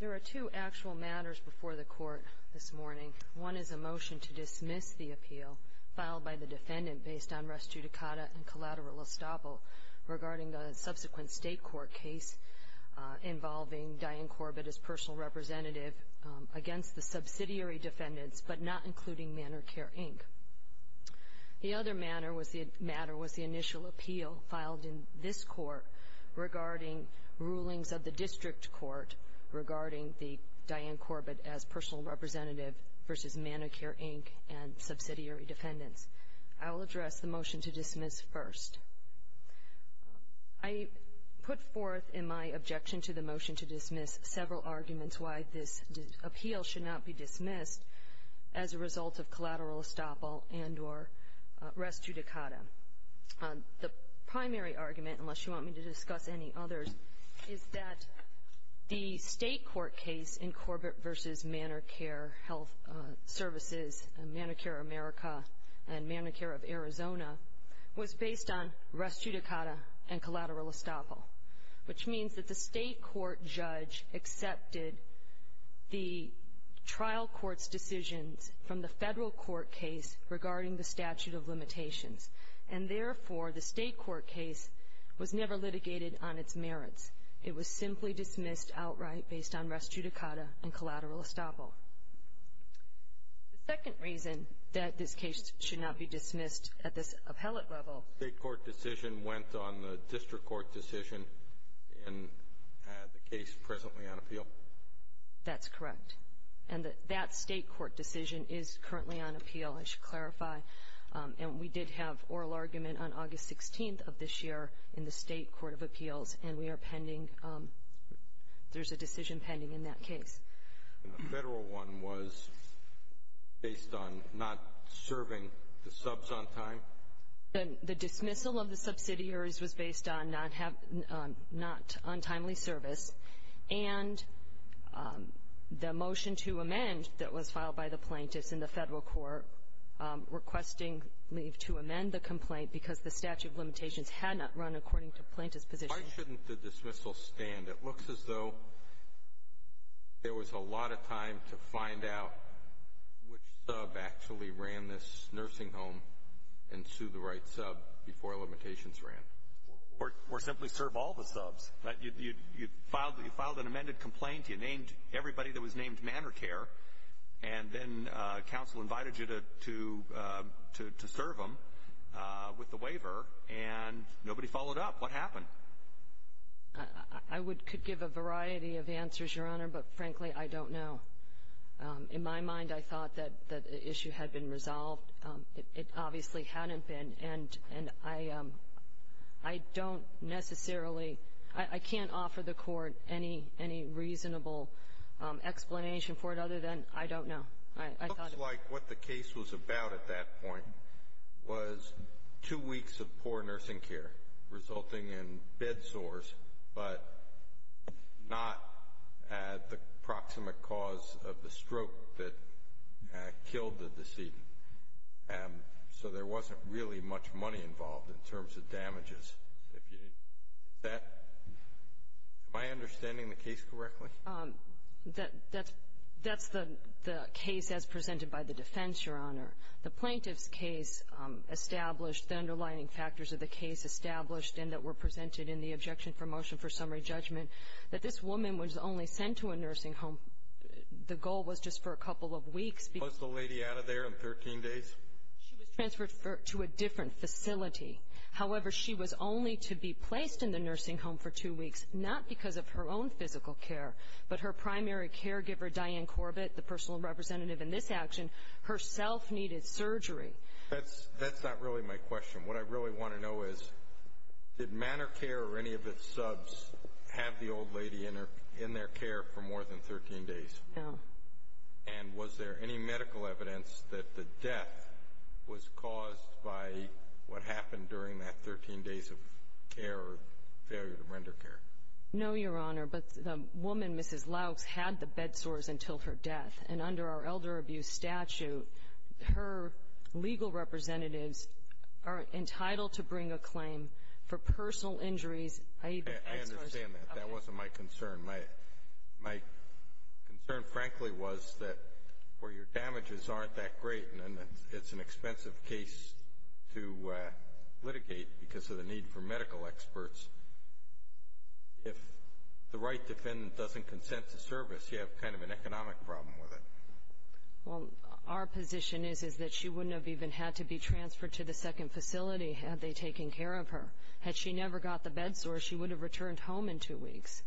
There are two actual matters before the Court this morning. One is a motion to dismiss the appeal filed by the defendant based on res judicata and collateral estoppel regarding the subsequent state court case involving Diane Corbett as personal representative against the subsidiary defendants but not including Manor Care, Inc. The other matter was the initial appeal filed in this Court regarding rulings of the District Court regarding Diane Corbett as personal representative v. Manor Care, Inc. and subsidiary defendants. I will address the motion to dismiss first. I put forth in my objection to the motion to dismiss several arguments why this appeal should not be dismissed as a result of collateral estoppel and or res judicata. The primary argument, unless you want me to discuss any others, is that the state court case in Corbett v. Manor Care Health Services, Manor Care America, and Manor Care of Arizona was based on res judicata and collateral estoppel, which means that the state court judge accepted the trial court's decisions from the federal court case regarding the statute of limitations, and therefore the state court case was never litigated on its merits. It was simply dismissed outright based on res judicata and collateral estoppel. The second reason that this case should not be dismissed at this appellate level... The state court decision went on the district court decision in the case presently on appeal? That's correct. And that state court decision is currently on appeal, I should clarify. And we did have oral argument on August 16th of this year in the state court of appeals, and we are pending, there's a decision pending in that case. And the federal one was based on not serving the subs on time? The dismissal of the subsidiaries was based on not on timely service, and the motion to amend that was filed by the plaintiffs in the federal court requesting leave to amend the complaint because the statute of limitations had not run according to plaintiff's position. Why shouldn't the dismissal stand? It looks as though there was a lot of time to find out which sub actually ran this nursing home and sue the right sub before limitations ran. I could give a variety of answers, Your Honor, but frankly, I don't know. In my mind, I thought that the issue had been resolved. It obviously hadn't been. And I don't know that I can give a variety of answers, Your Honor, but frankly, I don't know. I don't necessarily, I can't offer the court any reasonable explanation for it other than I don't know. I thought it was. I feel like what the case was about at that point was two weeks of poor nursing care resulting in bed sores, but not the proximate cause of the stroke that killed the decedent. So there wasn't really much money involved in terms of damages. Is that my understanding of the case correctly? That's the case as presented by the defense, Your Honor. The plaintiff's case established, the underlining factors of the case established and that were presented in the objection for motion for summary judgment, that this woman was only sent to a nursing home. The goal was just for a couple of weeks. Was the lady out of there in 13 days? She was transferred to a different facility. However, she was only to be placed in the nursing home for two weeks, not because of her own physical care, but her primary caregiver, Diane Corbett, the personal representative in this action, herself needed surgery. That's not really my question. What I really want to know is, did Manor Care or any of its subs have the old lady in their care for more than 13 days? No. And was there any medical evidence that the death was caused by what happened during that 13 days of care or failure to render care? No, Your Honor. But the woman, Mrs. Laux, had the bed sores until her death. And under our elder abuse statute, her legal representatives are entitled to bring a claim for personal injuries, i.e., the bed sores. I understand that. That wasn't my concern. My concern, frankly, was that where your damages aren't that great and it's an expensive case to litigate because of the need for medical experts, if the right defendant doesn't consent to service, you have kind of an economic problem with it. Well, our position is that she wouldn't have even had to be transferred to the second facility had they taken care of her. Had she never got the bed sores, she would have returned home in two weeks.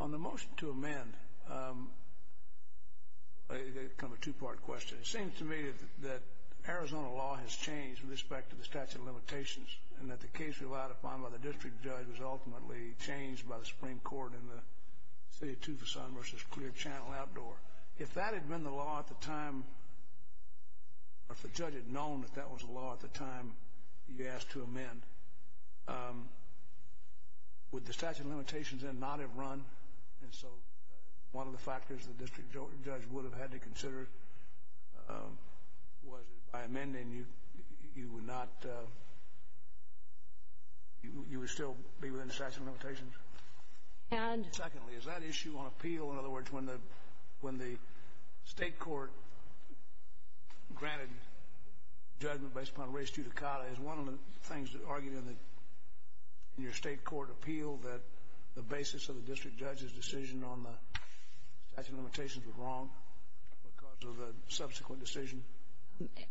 On the motion to amend, kind of a two-part question, it seems to me that Arizona law has changed with respect to the statute of limitations and that the case relied upon by the district judge was ultimately changed by the Supreme Court in the City of Tucson v. Clear Channel Outdoor. If that had been the law at the time, or if the judge had known that that was the law at the time you asked to amend, would the statute of limitations then not have run? And so one of the factors the district judge would have had to consider was that by amending, you would still be within the statute of limitations? Secondly, is that issue on appeal? In other words, when the state court granted judgment based upon res judicata, is one of the things that argued in your state court appeal that the basis of the district judge's decision on the statute of limitations was wrong because of the subsequent decision?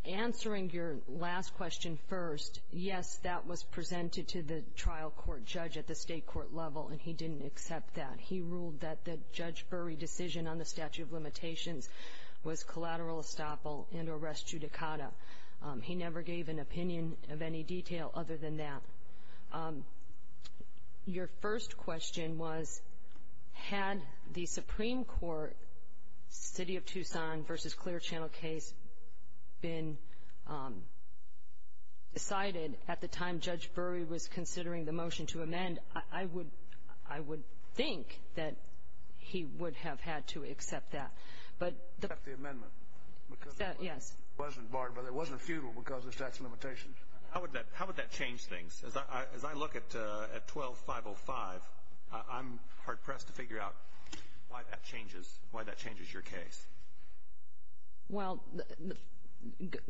Answering your last question first, yes, that was presented to the trial court judge at the state court level, and he didn't accept that. He ruled that the Judge Burry decision on the statute of limitations was collateral estoppel and res judicata. He never gave an opinion of any detail other than that. Your first question was, had the Supreme Court City of Tucson v. Clear Channel case been decided at the time Judge Burry was considering the motion to amend? I would think that he would have had to accept that. Except the amendment. Yes. It wasn't barred, but it wasn't futile because of the statute of limitations. How would that change things? As I look at 12-505, I'm hard-pressed to figure out why that changes your case. Well,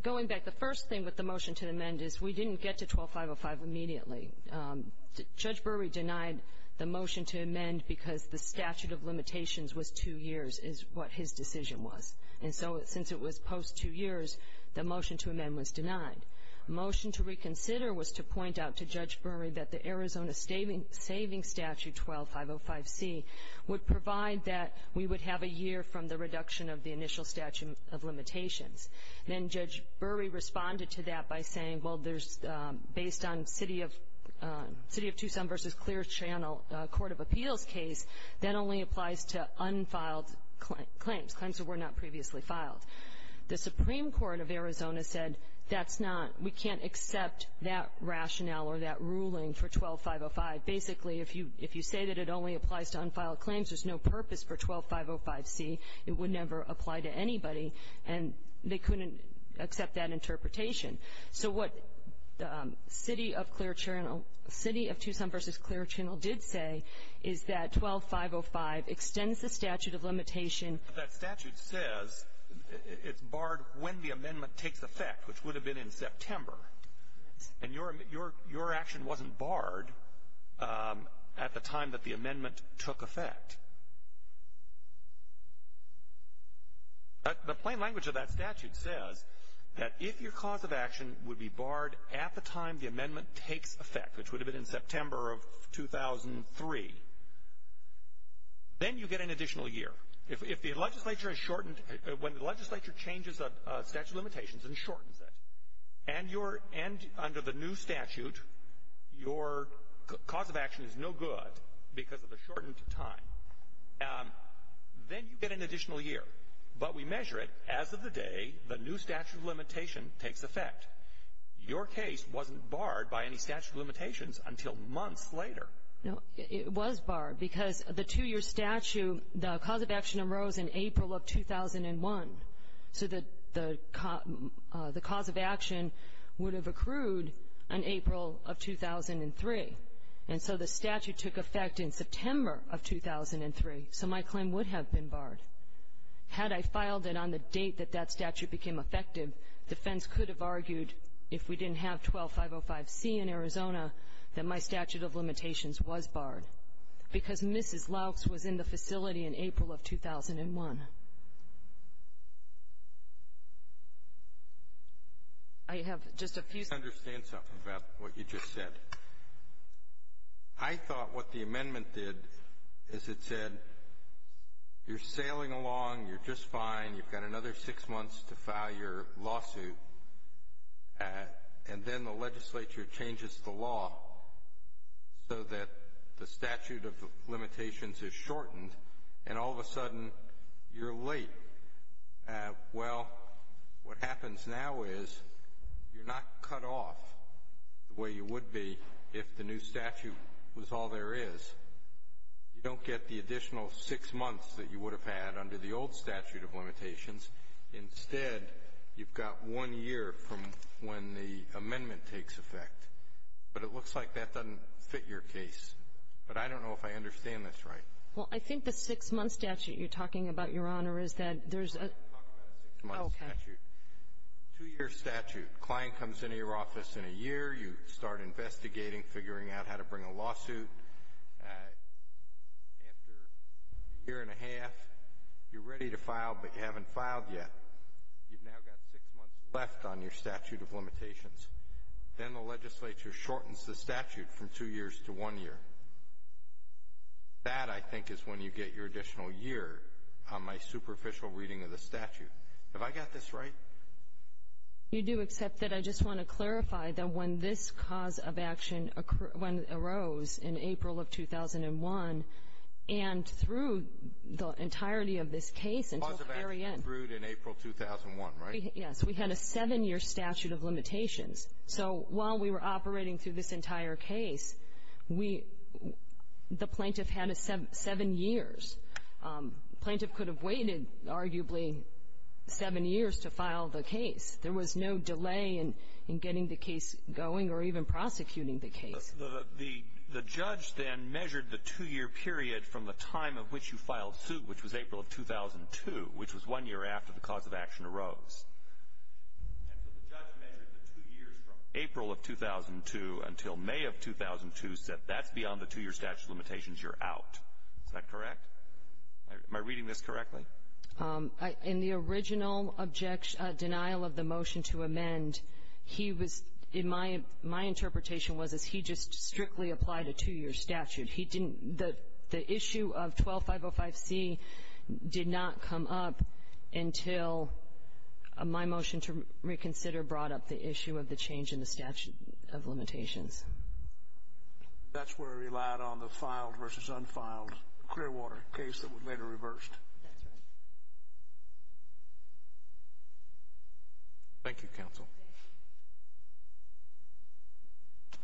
going back, the first thing with the motion to amend is we didn't get to 12-505 immediately. Judge Burry denied the motion to amend because the statute of limitations was two years, is what his decision was. And so since it was post-two years, the motion to amend was denied. The motion to reconsider was to point out to Judge Burry that the Arizona Saving Statute 12-505C would provide that we would have a year from the reduction of the initial statute of limitations. Then Judge Burry responded to that by saying, well, based on City of Tucson v. Clear Channel Court of Appeals case, that only applies to unfiled claims, claims that were not previously filed. The Supreme Court of Arizona said that's not, we can't accept that rationale or that ruling for 12-505. Basically, if you say that it only applies to unfiled claims, there's no purpose for 12-505C. It would never apply to anybody, and they couldn't accept that interpretation. So what City of Clear Channel, City of Tucson v. Clear Channel did say is that 12-505 extends the statute of limitation. That statute says it's barred when the amendment takes effect, which would have been in September. And your action wasn't barred at the time that the amendment took effect. The plain language of that statute says that if your cause of action would be barred at the time the amendment takes effect, which would have been in September of 2003, then you get an additional year. If the legislature has shortened, when the legislature changes a statute of limitations and shortens it, and under the new statute your cause of action is no good because of the shortened time, then you get an additional year. But we measure it as of the day the new statute of limitation takes effect. Your case wasn't barred by any statute of limitations until months later. No. It was barred because the two-year statute, the cause of action arose in April of 2001. So the cause of action would have accrued in April of 2003. And so the statute took effect in September of 2003. So my claim would have been barred. Had I filed it on the date that that statute became effective, defense could have argued if we didn't have 12505C in Arizona that my statute of limitations was barred because Mrs. Laux was in the facility in April of 2001. I have just a few questions. Let me understand something about what you just said. I thought what the amendment did is it said you're sailing along, you're just fine, you've got another six months to file your lawsuit, and then the legislature changes the law so that the statute of limitations is shortened, and all of a sudden you're late. Well, what happens now is you're not cut off the way you would be if the new statute was all there is. You don't get the additional six months that you would have had under the old statute of limitations. Instead, you've got one year from when the amendment takes effect. But it looks like that doesn't fit your case. But I don't know if I understand this right. Well, I think the six-month statute you're talking about, Your Honor, is that there's a — I didn't talk about a six-month statute. Oh, okay. Two-year statute. Client comes into your office in a year. You start investigating, figuring out how to bring a lawsuit. After a year and a half, you're ready to file, but you haven't filed yet. You've now got six months left on your statute of limitations. Then the legislature shortens the statute from two years to one year. That, I think, is when you get your additional year on my superficial reading of the statute. Have I got this right? You do, except that I just want to clarify that when this cause of action arose in April of 2001 and through the entirety of this case until the very end — The cause of action endured in April 2001, right? We had a seven-year statute of limitations. So while we were operating through this entire case, we — the plaintiff had a seven years. The plaintiff could have waited arguably seven years to file the case. There was no delay in getting the case going or even prosecuting the case. The judge then measured the two-year period from the time of which you filed suit, which was April of 2002, which was one year after the cause of action arose. And so the judge measured the two years from April of 2002 until May of 2002, said that's beyond the two-year statute of limitations. You're out. Is that correct? Am I reading this correctly? In the original denial of the motion to amend, he was — my interpretation was, is he just strictly applied a two-year statute. He didn't — the issue of 12505C did not come up until my motion to reconsider brought up the issue of the change in the statute of limitations. That's where it relied on the filed versus unfiled Clearwater case that was later reversed. That's right. Thank you, counsel. Thank you.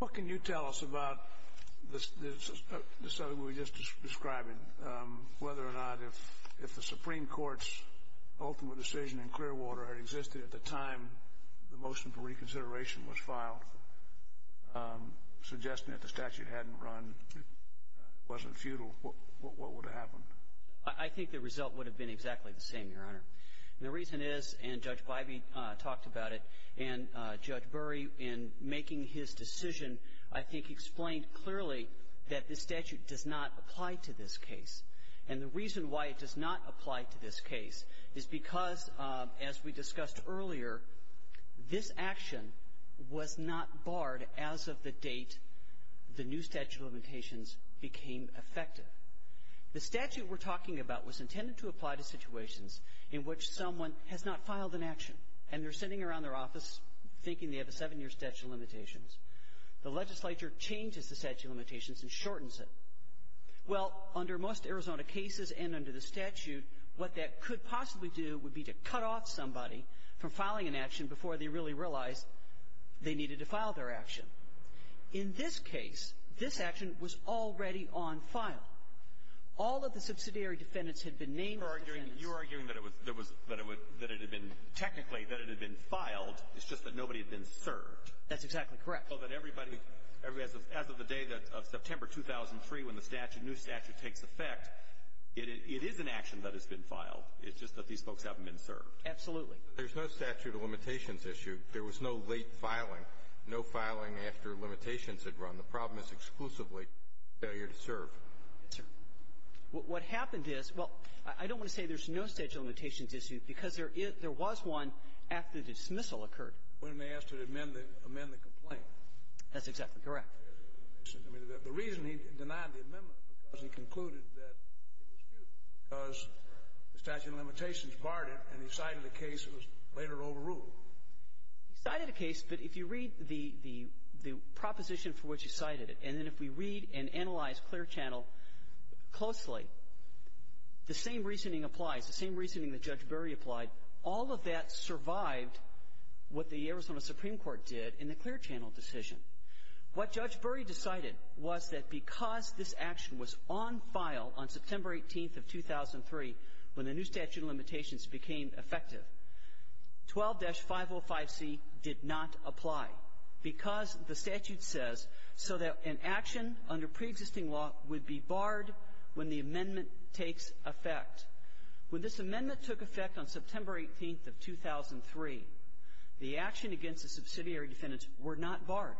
What can you tell us about the study we were just describing, whether or not if the Supreme Court's ultimate decision in Clearwater had existed at the time the motion for reconsideration was filed, suggesting that the statute hadn't run, wasn't futile, what would have happened? I think the result would have been exactly the same, Your Honor. And the reason is, and Judge Bybee talked about it, and Judge Burry in making his decision, I think, explained clearly that the statute does not apply to this case. And the reason why it does not apply to this case is because, as we discussed earlier, this action was not barred as of the date the new statute of limitations became effective. The statute we're talking about was intended to apply to situations in which someone has not filed an action and they're sitting around their office thinking they have a seven-year statute of limitations. The legislature changes the statute of limitations and shortens it. Well, under most Arizona cases and under the statute, what that could possibly do would be to cut off somebody from filing an action before they really realized they needed to file their action. In this case, this action was already on file. All of the subsidiary defendants had been named as defendants. You're arguing that it was – that it had been – technically, that it had been filed. It's just that nobody had been served. That's exactly correct. So that everybody – as of the day of September 2003, when the statute – new statute takes effect, it is an action that has been filed. It's just that these folks haven't been served. Absolutely. There's no statute of limitations issue. There was no late filing. No filing after limitations had run. The problem is exclusively failure to serve. Yes, sir. What happened is – well, I don't want to say there's no statute of limitations issue because there was one after the dismissal occurred. When they asked to amend the complaint. That's exactly correct. I mean, the reason he denied the amendment was because he concluded that it was due because the statute of limitations barred it, and he cited a case that was later overruled. He cited a case, but if you read the proposition for which he cited it, and then if we read and analyze Clear Channel closely, the same reasoning applies, the same reasoning that Judge Burry applied. All of that survived what the Arizona Supreme Court did in the Clear Channel decision. What Judge Burry decided was that because this action was on file on September 18th of 2003, when the new statute of limitations became effective, 12-505C did not apply because the statute says so that an action under preexisting law would be barred when the amendment takes effect. When this amendment took effect on September 18th of 2003, the action against the subsidiary defendants were not barred.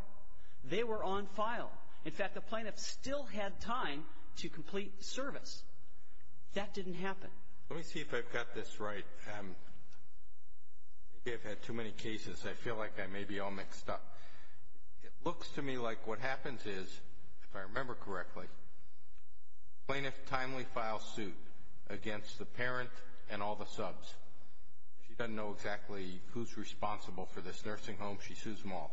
They were on file. In fact, the plaintiffs still had time to complete service. That didn't happen. Let me see if I've got this right. Maybe I've had too many cases. I feel like I may be all mixed up. It looks to me like what happens is, if I remember correctly, plaintiff timely files suit against the parent and all the subs. She doesn't know exactly who's responsible for this nursing home. She sues them all.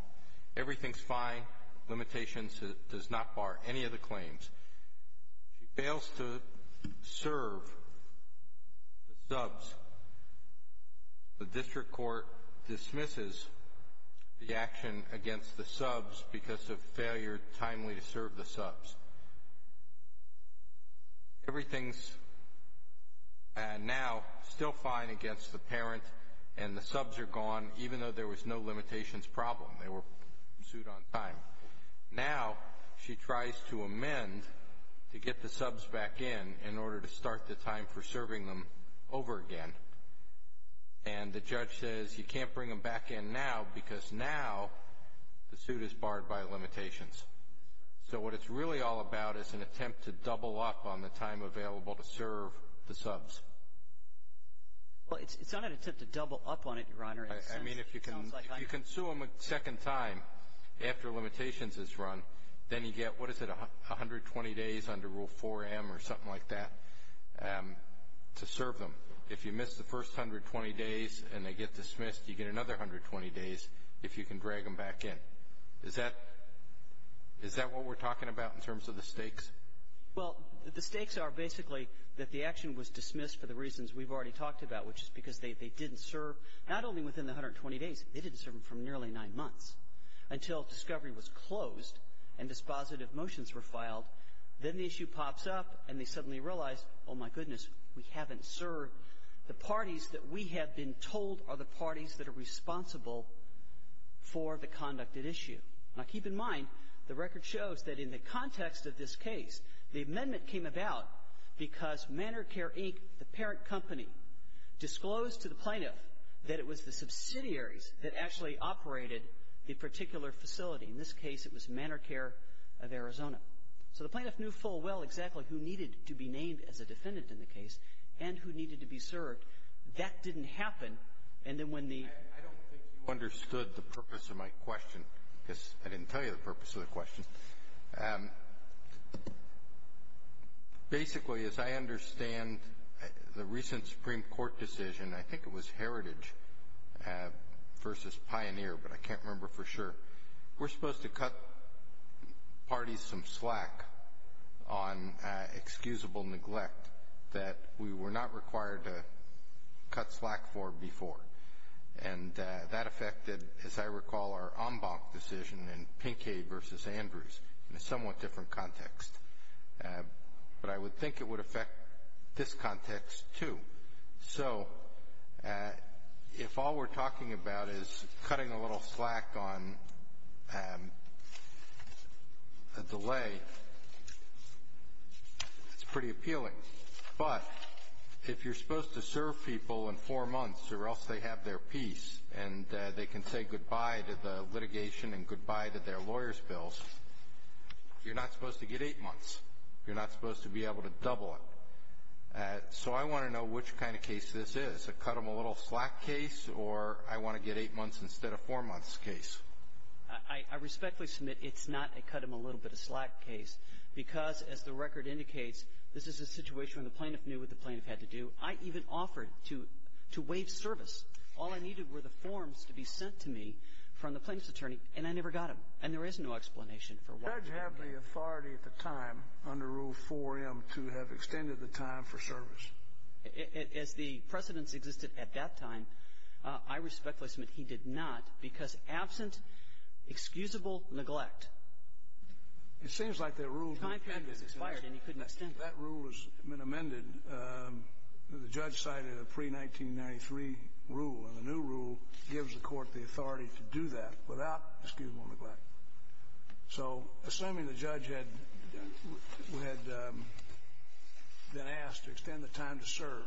Everything's fine. Limitations does not bar any of the claims. She fails to serve the subs. The district court dismisses the action against the subs because of failure timely to serve the subs. Everything's now still fine against the parent, and the subs are gone, even though there was no limitations problem. They were sued on time. Now she tries to amend to get the subs back in in order to start the time for serving them over again. And the judge says you can't bring them back in now because now the suit is barred by limitations. So what it's really all about is an attempt to double up on the time available to serve the subs. I mean, if you can sue them a second time after limitations is run, then you get, what is it, 120 days under Rule 4M or something like that to serve them. If you miss the first 120 days and they get dismissed, you get another 120 days if you can drag them back in. Is that what we're talking about in terms of the stakes? Well, the stakes are basically that the action was dismissed for the reasons we've already talked about, which is because they didn't serve, not only within the 120 days, they didn't serve them for nearly nine months until discovery was closed and dispositive motions were filed. Then the issue pops up and they suddenly realize, oh my goodness, we haven't served. The parties that we have been told are the parties that are responsible for the conducted issue. Now keep in mind, the record shows that in the context of this case, the amendment came about because Manor Care, Inc., the parent company, disclosed to the plaintiff that it was the subsidiaries that actually operated the particular facility. In this case, it was Manor Care of Arizona. So the plaintiff knew full well exactly who needed to be named as a defendant in the case and who needed to be served. That didn't happen. And then when the — I don't think you understood the purpose of my question, because I didn't tell you the purpose of the question. Basically, as I understand the recent Supreme Court decision, I think it was Heritage versus Pioneer, but I can't remember for sure, we're supposed to cut parties some slack on excusable neglect that we were not required to cut slack for before. And that affected, as I recall, our en banc decision in Pinkade versus Andrews in a somewhat different context. But I would think it would affect this context, too. So if all we're talking about is cutting a little slack on a delay, it's pretty appealing. But if you're supposed to serve people in four months or else they have their peace and they can say goodbye to the litigation and goodbye to their lawyers' bills, you're not supposed to get eight months. You're not supposed to be able to double it. So I want to know which kind of case this is, a cut-them-a-little-slack case, or I want to get eight months instead of four months case. I respectfully submit it's not a cut-them-a-little-bit-of-slack case, because, as the record indicates, this is a situation when the plaintiff knew what the plaintiff had to do. I even offered to waive service. All I needed were the forms to be sent to me from the plaintiff's attorney, and I never got them. And there is no explanation for why. Did the judge have the authority at the time under Rule 4M to have extended the time for service? As the precedents existed at that time, I respectfully submit he did not, because absent excusable neglect. It seems like that rule was amended. The time period was expired, and he couldn't extend it. That rule has been amended. The judge cited a pre-1993 rule, and the new rule gives the court the authority to do that without excusable neglect. So assuming the judge had been asked to extend the time to serve,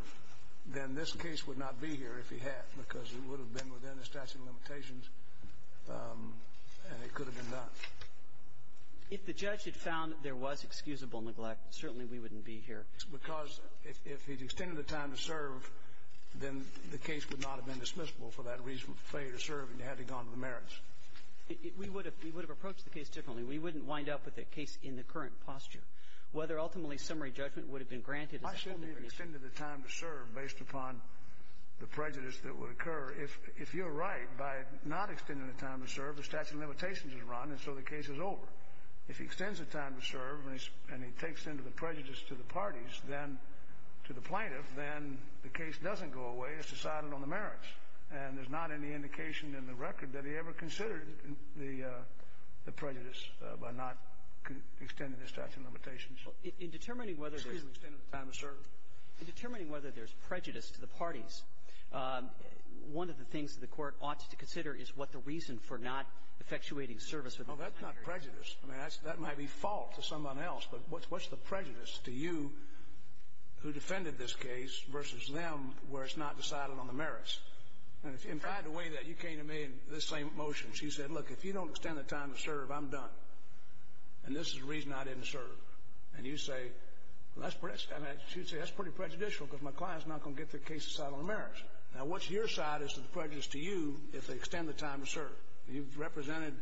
then this case would not be here if he had, because it would have been within the statute of limitations, and it could have been done. If the judge had found there was excusable neglect, certainly we wouldn't be here. Because if he had extended the time to serve, then the case would not have been dismissible for that reason, for failure to serve and having gone to the merits. We would have approached the case differently. We wouldn't wind up with a case in the current posture. Whether ultimately summary judgment would have been granted is uncertain. I assume he extended the time to serve based upon the prejudice that would occur. However, if you're right, by not extending the time to serve, the statute of limitations is run, and so the case is over. If he extends the time to serve and he takes into the prejudice to the parties, then to the plaintiff, then the case doesn't go away. It's decided on the merits. And there's not any indication in the record that he ever considered the prejudice by not extending the statute of limitations. In determining whether there's prejudice to the parties, one of the things that the court ought to consider is what the reason for not effectuating service with the plaintiff. Oh, that's not prejudice. I mean, that might be fault to someone else, but what's the prejudice to you who defended this case versus them where it's not decided on the merits? And in fact, the way that you came to me in this same motion, she said, look, if you don't extend the time to serve, I'm done. And this is the reason I didn't serve. And you say, well, that's pretty prejudicial because my client's not going to get their case decided on the merits. Now, what's your side of the prejudice to you if they extend the time to serve? You've represented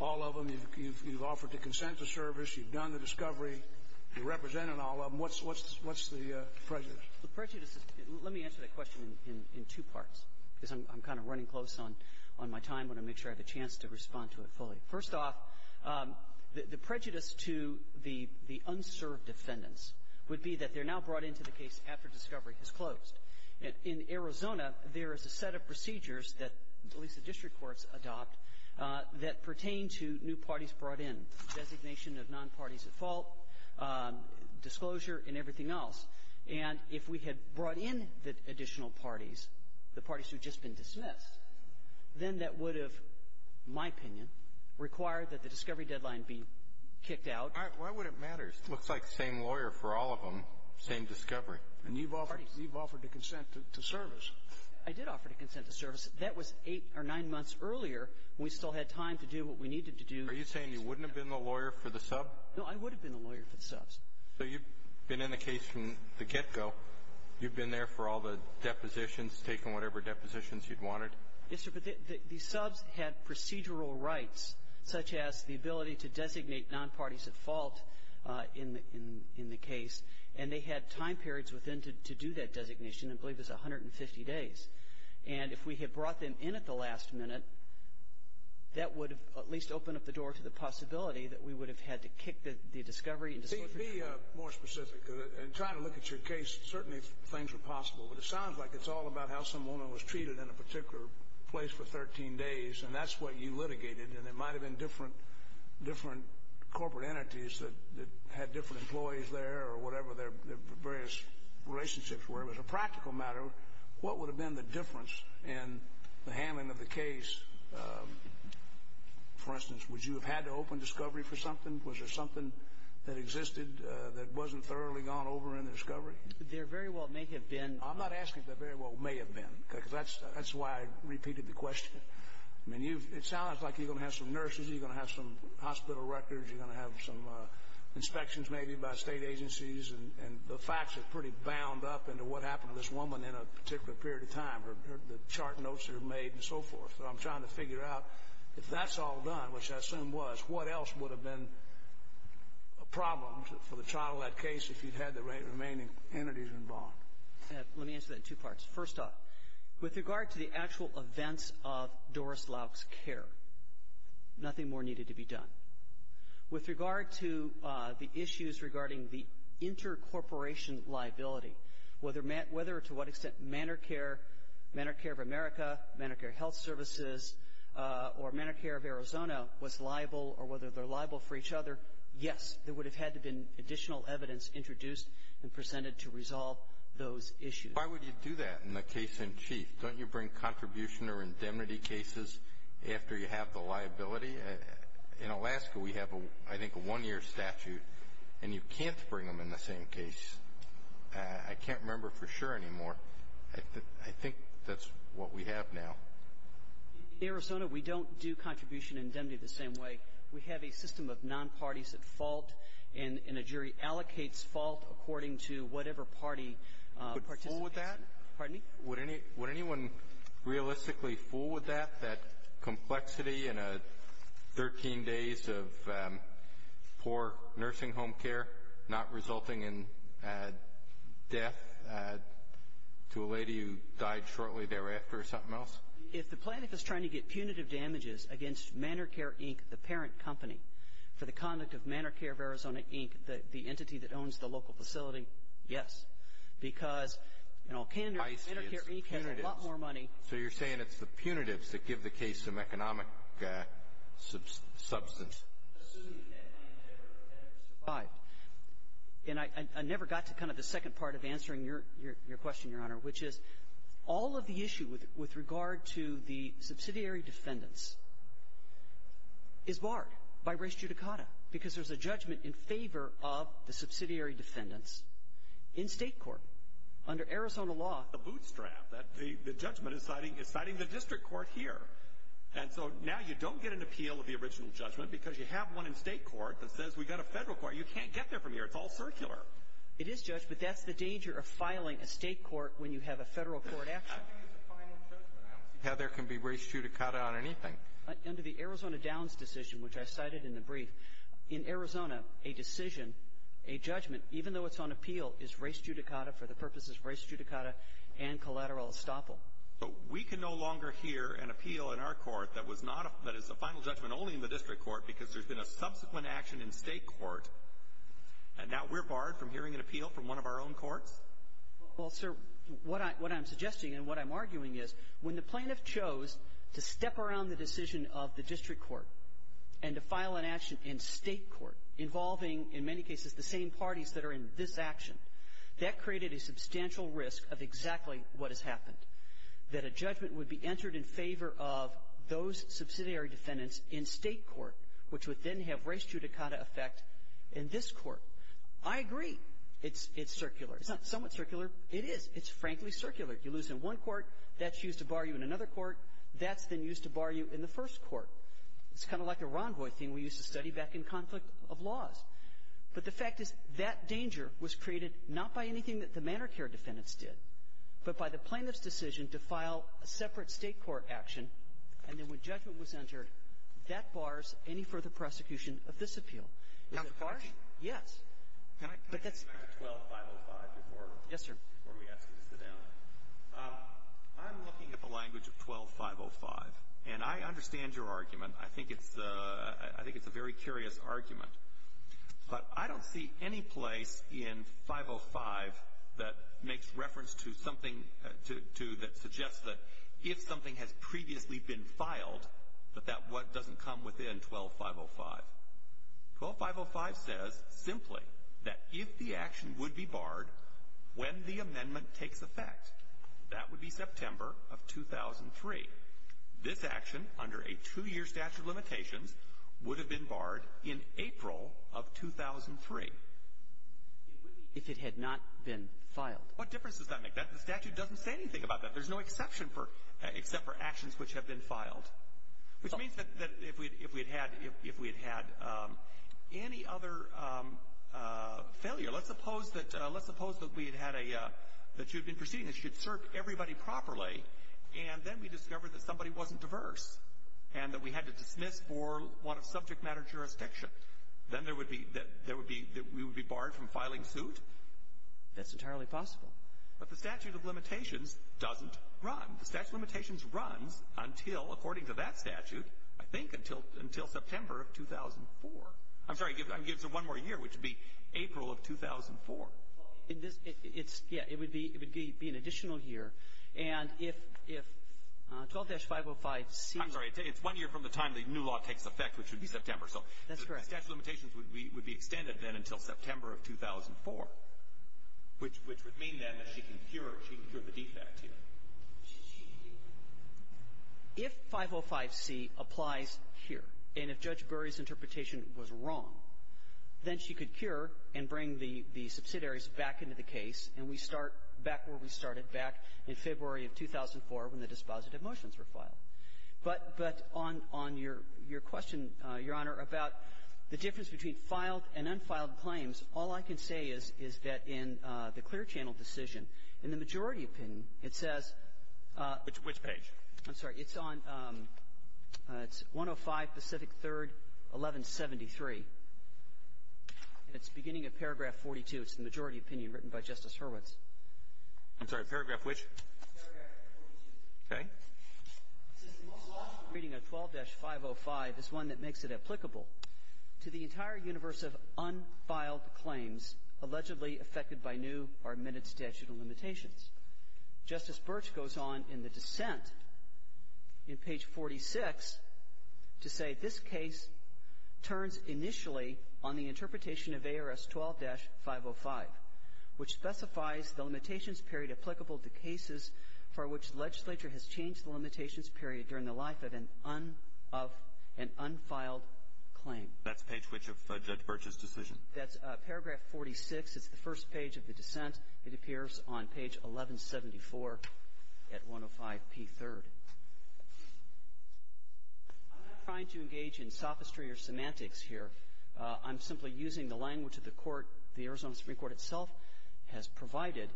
all of them. You've offered to consent to service. You've done the discovery. You represented all of them. What's the prejudice? The prejudice is — let me answer that question in two parts, because I'm kind of running close on my time. I want to make sure I have a chance to respond to it fully. First off, the prejudice to the unserved defendants would be that they're now brought into the case after discovery has closed. In Arizona, there is a set of procedures that at least the district courts adopt that pertain to new parties brought in, designation of nonparties at fault, disclosure and everything else. And if we had brought in the additional parties, the parties who had just been dismissed, then that would have, in my opinion, required that the discovery deadline be kicked Why would it matter? It looks like the same lawyer for all of them, same discovery. And you've offered to consent to service. I did offer to consent to service. That was eight or nine months earlier when we still had time to do what we needed to do. Are you saying you wouldn't have been the lawyer for the sub? No, I would have been the lawyer for the subs. So you've been in the case from the get-go. You've been there for all the depositions, taken whatever depositions you'd wanted? Yes, sir, but the subs had procedural rights, such as the ability to designate nonparties at fault in the case. And they had time periods within to do that designation. I believe it was 150 days. And if we had brought them in at the last minute, that would have at least opened up the door to the possibility that we would have had to kick the discovery and disclosure. Be more specific. In trying to look at your case, certainly things were possible. But it sounds like it's all about how someone was treated in a particular place for 13 days, and that's what you litigated, and there might have been different corporate entities that had different employees there or whatever their various relationships were. As a practical matter, what would have been the difference in the handling of the case? For instance, would you have had to open discovery for something? Was there something that existed that wasn't thoroughly gone over in the discovery? There very well may have been. I'm not asking if there very well may have been because that's why I repeated the question. I mean, it sounds like you're going to have some nurses, you're going to have some hospital records, you're going to have some inspections maybe by state agencies, and the facts are pretty bound up into what happened to this woman in a particular period of time or the chart notes that are made and so forth. So I'm trying to figure out if that's all done, which I assume was, what else would have been a problem for the child-led case if you'd had the remaining entities involved? Let me answer that in two parts. First off, with regard to the actual events of Doris Lauck's care, nothing more needed to be done. With regard to the issues regarding the inter-corporation liability, whether to what extent Medicare, Medicare of America, Medicare Health Services, or Medicare of Arizona was liable or whether they're liable for each other, yes, there would have had to have been additional evidence introduced and presented to resolve those issues. Why would you do that in the case in chief? Don't you bring contribution or indemnity cases after you have the liability? In Alaska we have, I think, a one-year statute, and you can't bring them in the same case. I can't remember for sure anymore. I think that's what we have now. In Arizona, we don't do contribution and indemnity the same way. We have a system of non-parties at fault, and a jury allocates fault according to whatever party participates. Would anyone fool with that? Pardon me? Death to a lady who died shortly thereafter or something else? If the plaintiff is trying to get punitive damages against Manor Care, Inc., the parent company, for the conduct of Manor Care of Arizona, Inc., the entity that owns the local facility, yes, because, you know, Manor Care, Inc. has a lot more money. So you're saying it's the punitives that give the case some economic substance. And I never got to kind of the second part of answering your question, Your Honor, which is all of the issue with regard to the subsidiary defendants is barred by res judicata because there's a judgment in favor of the subsidiary defendants in state court under Arizona law. A bootstrap. The judgment is citing the district court here. And so now you don't get an appeal of the original judgment because you have one in state court that says we've got a federal court. You can't get there from here. It's all circular. It is, Judge, but that's the danger of filing a state court when you have a federal court action. I think it's a final judgment. I don't see how there can be res judicata on anything. Under the Arizona Downs decision, which I cited in the brief, in Arizona, a decision, a judgment, even though it's on appeal, is res judicata for the purposes of res judicata and collateral estoppel. But we can no longer hear an appeal in our court that is a final judgment only in the district court because there's been a subsequent action in state court, and now we're barred from hearing an appeal from one of our own courts? Well, sir, what I'm suggesting and what I'm arguing is when the plaintiff chose to step around the decision of the district court and to file an action in state court involving, in many cases, the same parties that are in this action, that created a substantial risk of exactly what has happened, that a judgment would be entered in favor of those subsidiary defendants in state court, which would then have res judicata effect in this court. I agree it's circular. It's not somewhat circular. It is. It's frankly circular. You lose in one court. That's used to bar you in another court. That's then used to bar you in the first court. It's kind of like a rendezvous thing we used to study back in conflict of laws. But the fact is that danger was created not by anything that the manor care defendants did, but by the plaintiff's decision to file a separate state court action, and then when judgment was entered, that bars any further prosecution of this appeal. Is it barred? Yes. Can I come back to 12-505 before? Yes, sir. Before we ask you to sit down. I'm looking at the language of 12-505, and I understand your argument. I think it's a very curious argument. But I don't see any place in 505 that makes reference to something that suggests that if something has previously been filed, that that doesn't come within 12-505. 12-505 says simply that if the action would be barred when the amendment takes effect, that would be September of 2003. This action, under a two-year statute of limitations, would have been barred in April of 2003. If it had not been filed. What difference does that make? The statute doesn't say anything about that. There's no exception for — except for actions which have been filed. Which means that if we had had any other failure, let's suppose that we had had a — that everybody properly, and then we discovered that somebody wasn't diverse, and that we had to dismiss for one of subject matter jurisdiction. Then there would be — that we would be barred from filing suit? That's entirely possible. But the statute of limitations doesn't run. The statute of limitations runs until, according to that statute, I think until September of 2004. I'm sorry. Give us one more year, which would be April of 2004. It's — yeah. It would be an additional year. And if 12-505C — I'm sorry. It's one year from the time the new law takes effect, which would be September. That's correct. So the statute of limitations would be extended then until September of 2004, which would mean then that she can cure the defect here. If 505C applies here, and if Judge Berry's interpretation was wrong, then she could cure and bring the subsidiaries back into the case, and we start back where we started back in February of 2004 when the dispositive motions were filed. But on your question, Your Honor, about the difference between filed and unfiled claims, all I can say is, is that in the clear channel decision, in the majority opinion, it says — Which page? I'm sorry. It's on — it's 105 Pacific 3rd, 1173. And it's beginning of paragraph 42. It's the majority opinion written by Justice Hurwitz. I'm sorry. Paragraph which? Paragraph 42. Okay. It says the most lawful reading of 12-505 is one that makes it applicable to the entire universe of unfiled claims allegedly affected by new or amended statute of limitations. Justice Birch goes on in the dissent in page 46 to say this case turns initially on the interpretation of ARS 12-505, which specifies the limitations period applicable to cases for which the legislature has changed the limitations period during the life of an unfiled claim. That's page which of Judge Birch's decision? That's paragraph 46. It's the first page of the dissent. It appears on page 1174 at 105 P3rd. I'm not trying to engage in sophistry or semantics here. I'm simply using the language that the court, the Arizona Supreme Court itself, has provided,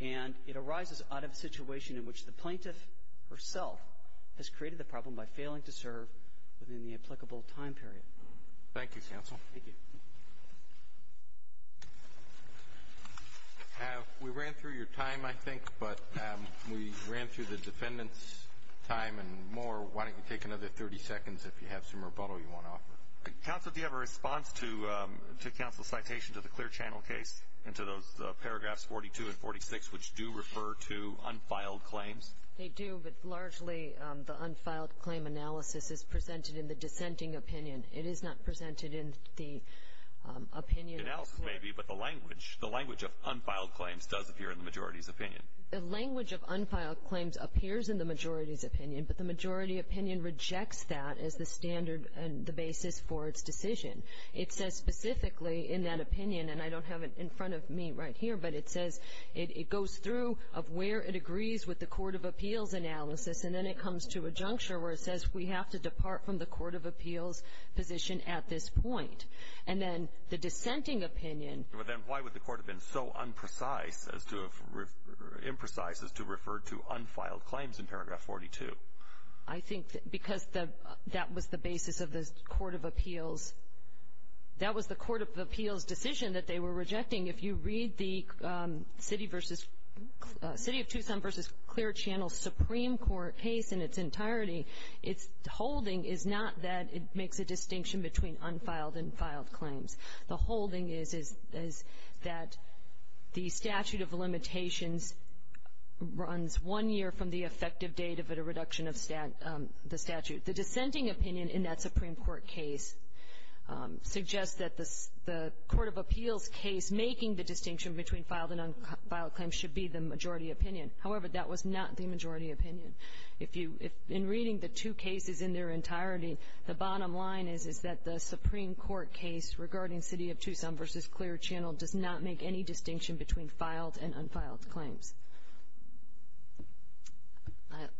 and it arises out of a situation in which the plaintiff herself has created the problem by failing to serve within the applicable time period. Thank you, counsel. Thank you. We ran through your time, I think, but we ran through the defendant's time and more. Why don't you take another 30 seconds if you have some rebuttal you want to offer? Counsel, do you have a response to counsel's citation to the Clear Channel case and to those paragraphs 42 and 46, which do refer to unfiled claims? They do, but largely the unfiled claim analysis is presented in the dissenting opinion. It is not presented in the opinion. It may be, but the language of unfiled claims does appear in the majority's opinion. But the majority opinion rejects that as the standard and the basis for its decision. It says specifically in that opinion, and I don't have it in front of me right here, but it says it goes through of where it agrees with the court of appeals analysis, and then it comes to a juncture where it says we have to depart from the court of appeals position at this point. And then the dissenting opinion. Then why would the court have been so imprecise as to refer to unfiled claims in paragraph 42? I think because that was the basis of the court of appeals. That was the court of appeals decision that they were rejecting. If you read the City of Tucson v. Clear Channel Supreme Court case in its entirety, its holding is not that it makes a distinction between unfiled and filed claims. The holding is that the statute of limitations runs one year from the effective date of a reduction of the statute. The dissenting opinion in that Supreme Court case suggests that the court of appeals case making the distinction between filed and unfiled claims should be the majority opinion. However, that was not the majority opinion. In reading the two cases in their entirety, the bottom line is that the Supreme Court case regarding City of Tucson v. Clear Channel does not make any distinction between filed and unfiled claims.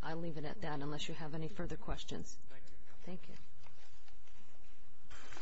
I'll leave it at that unless you have any further questions. Thank you.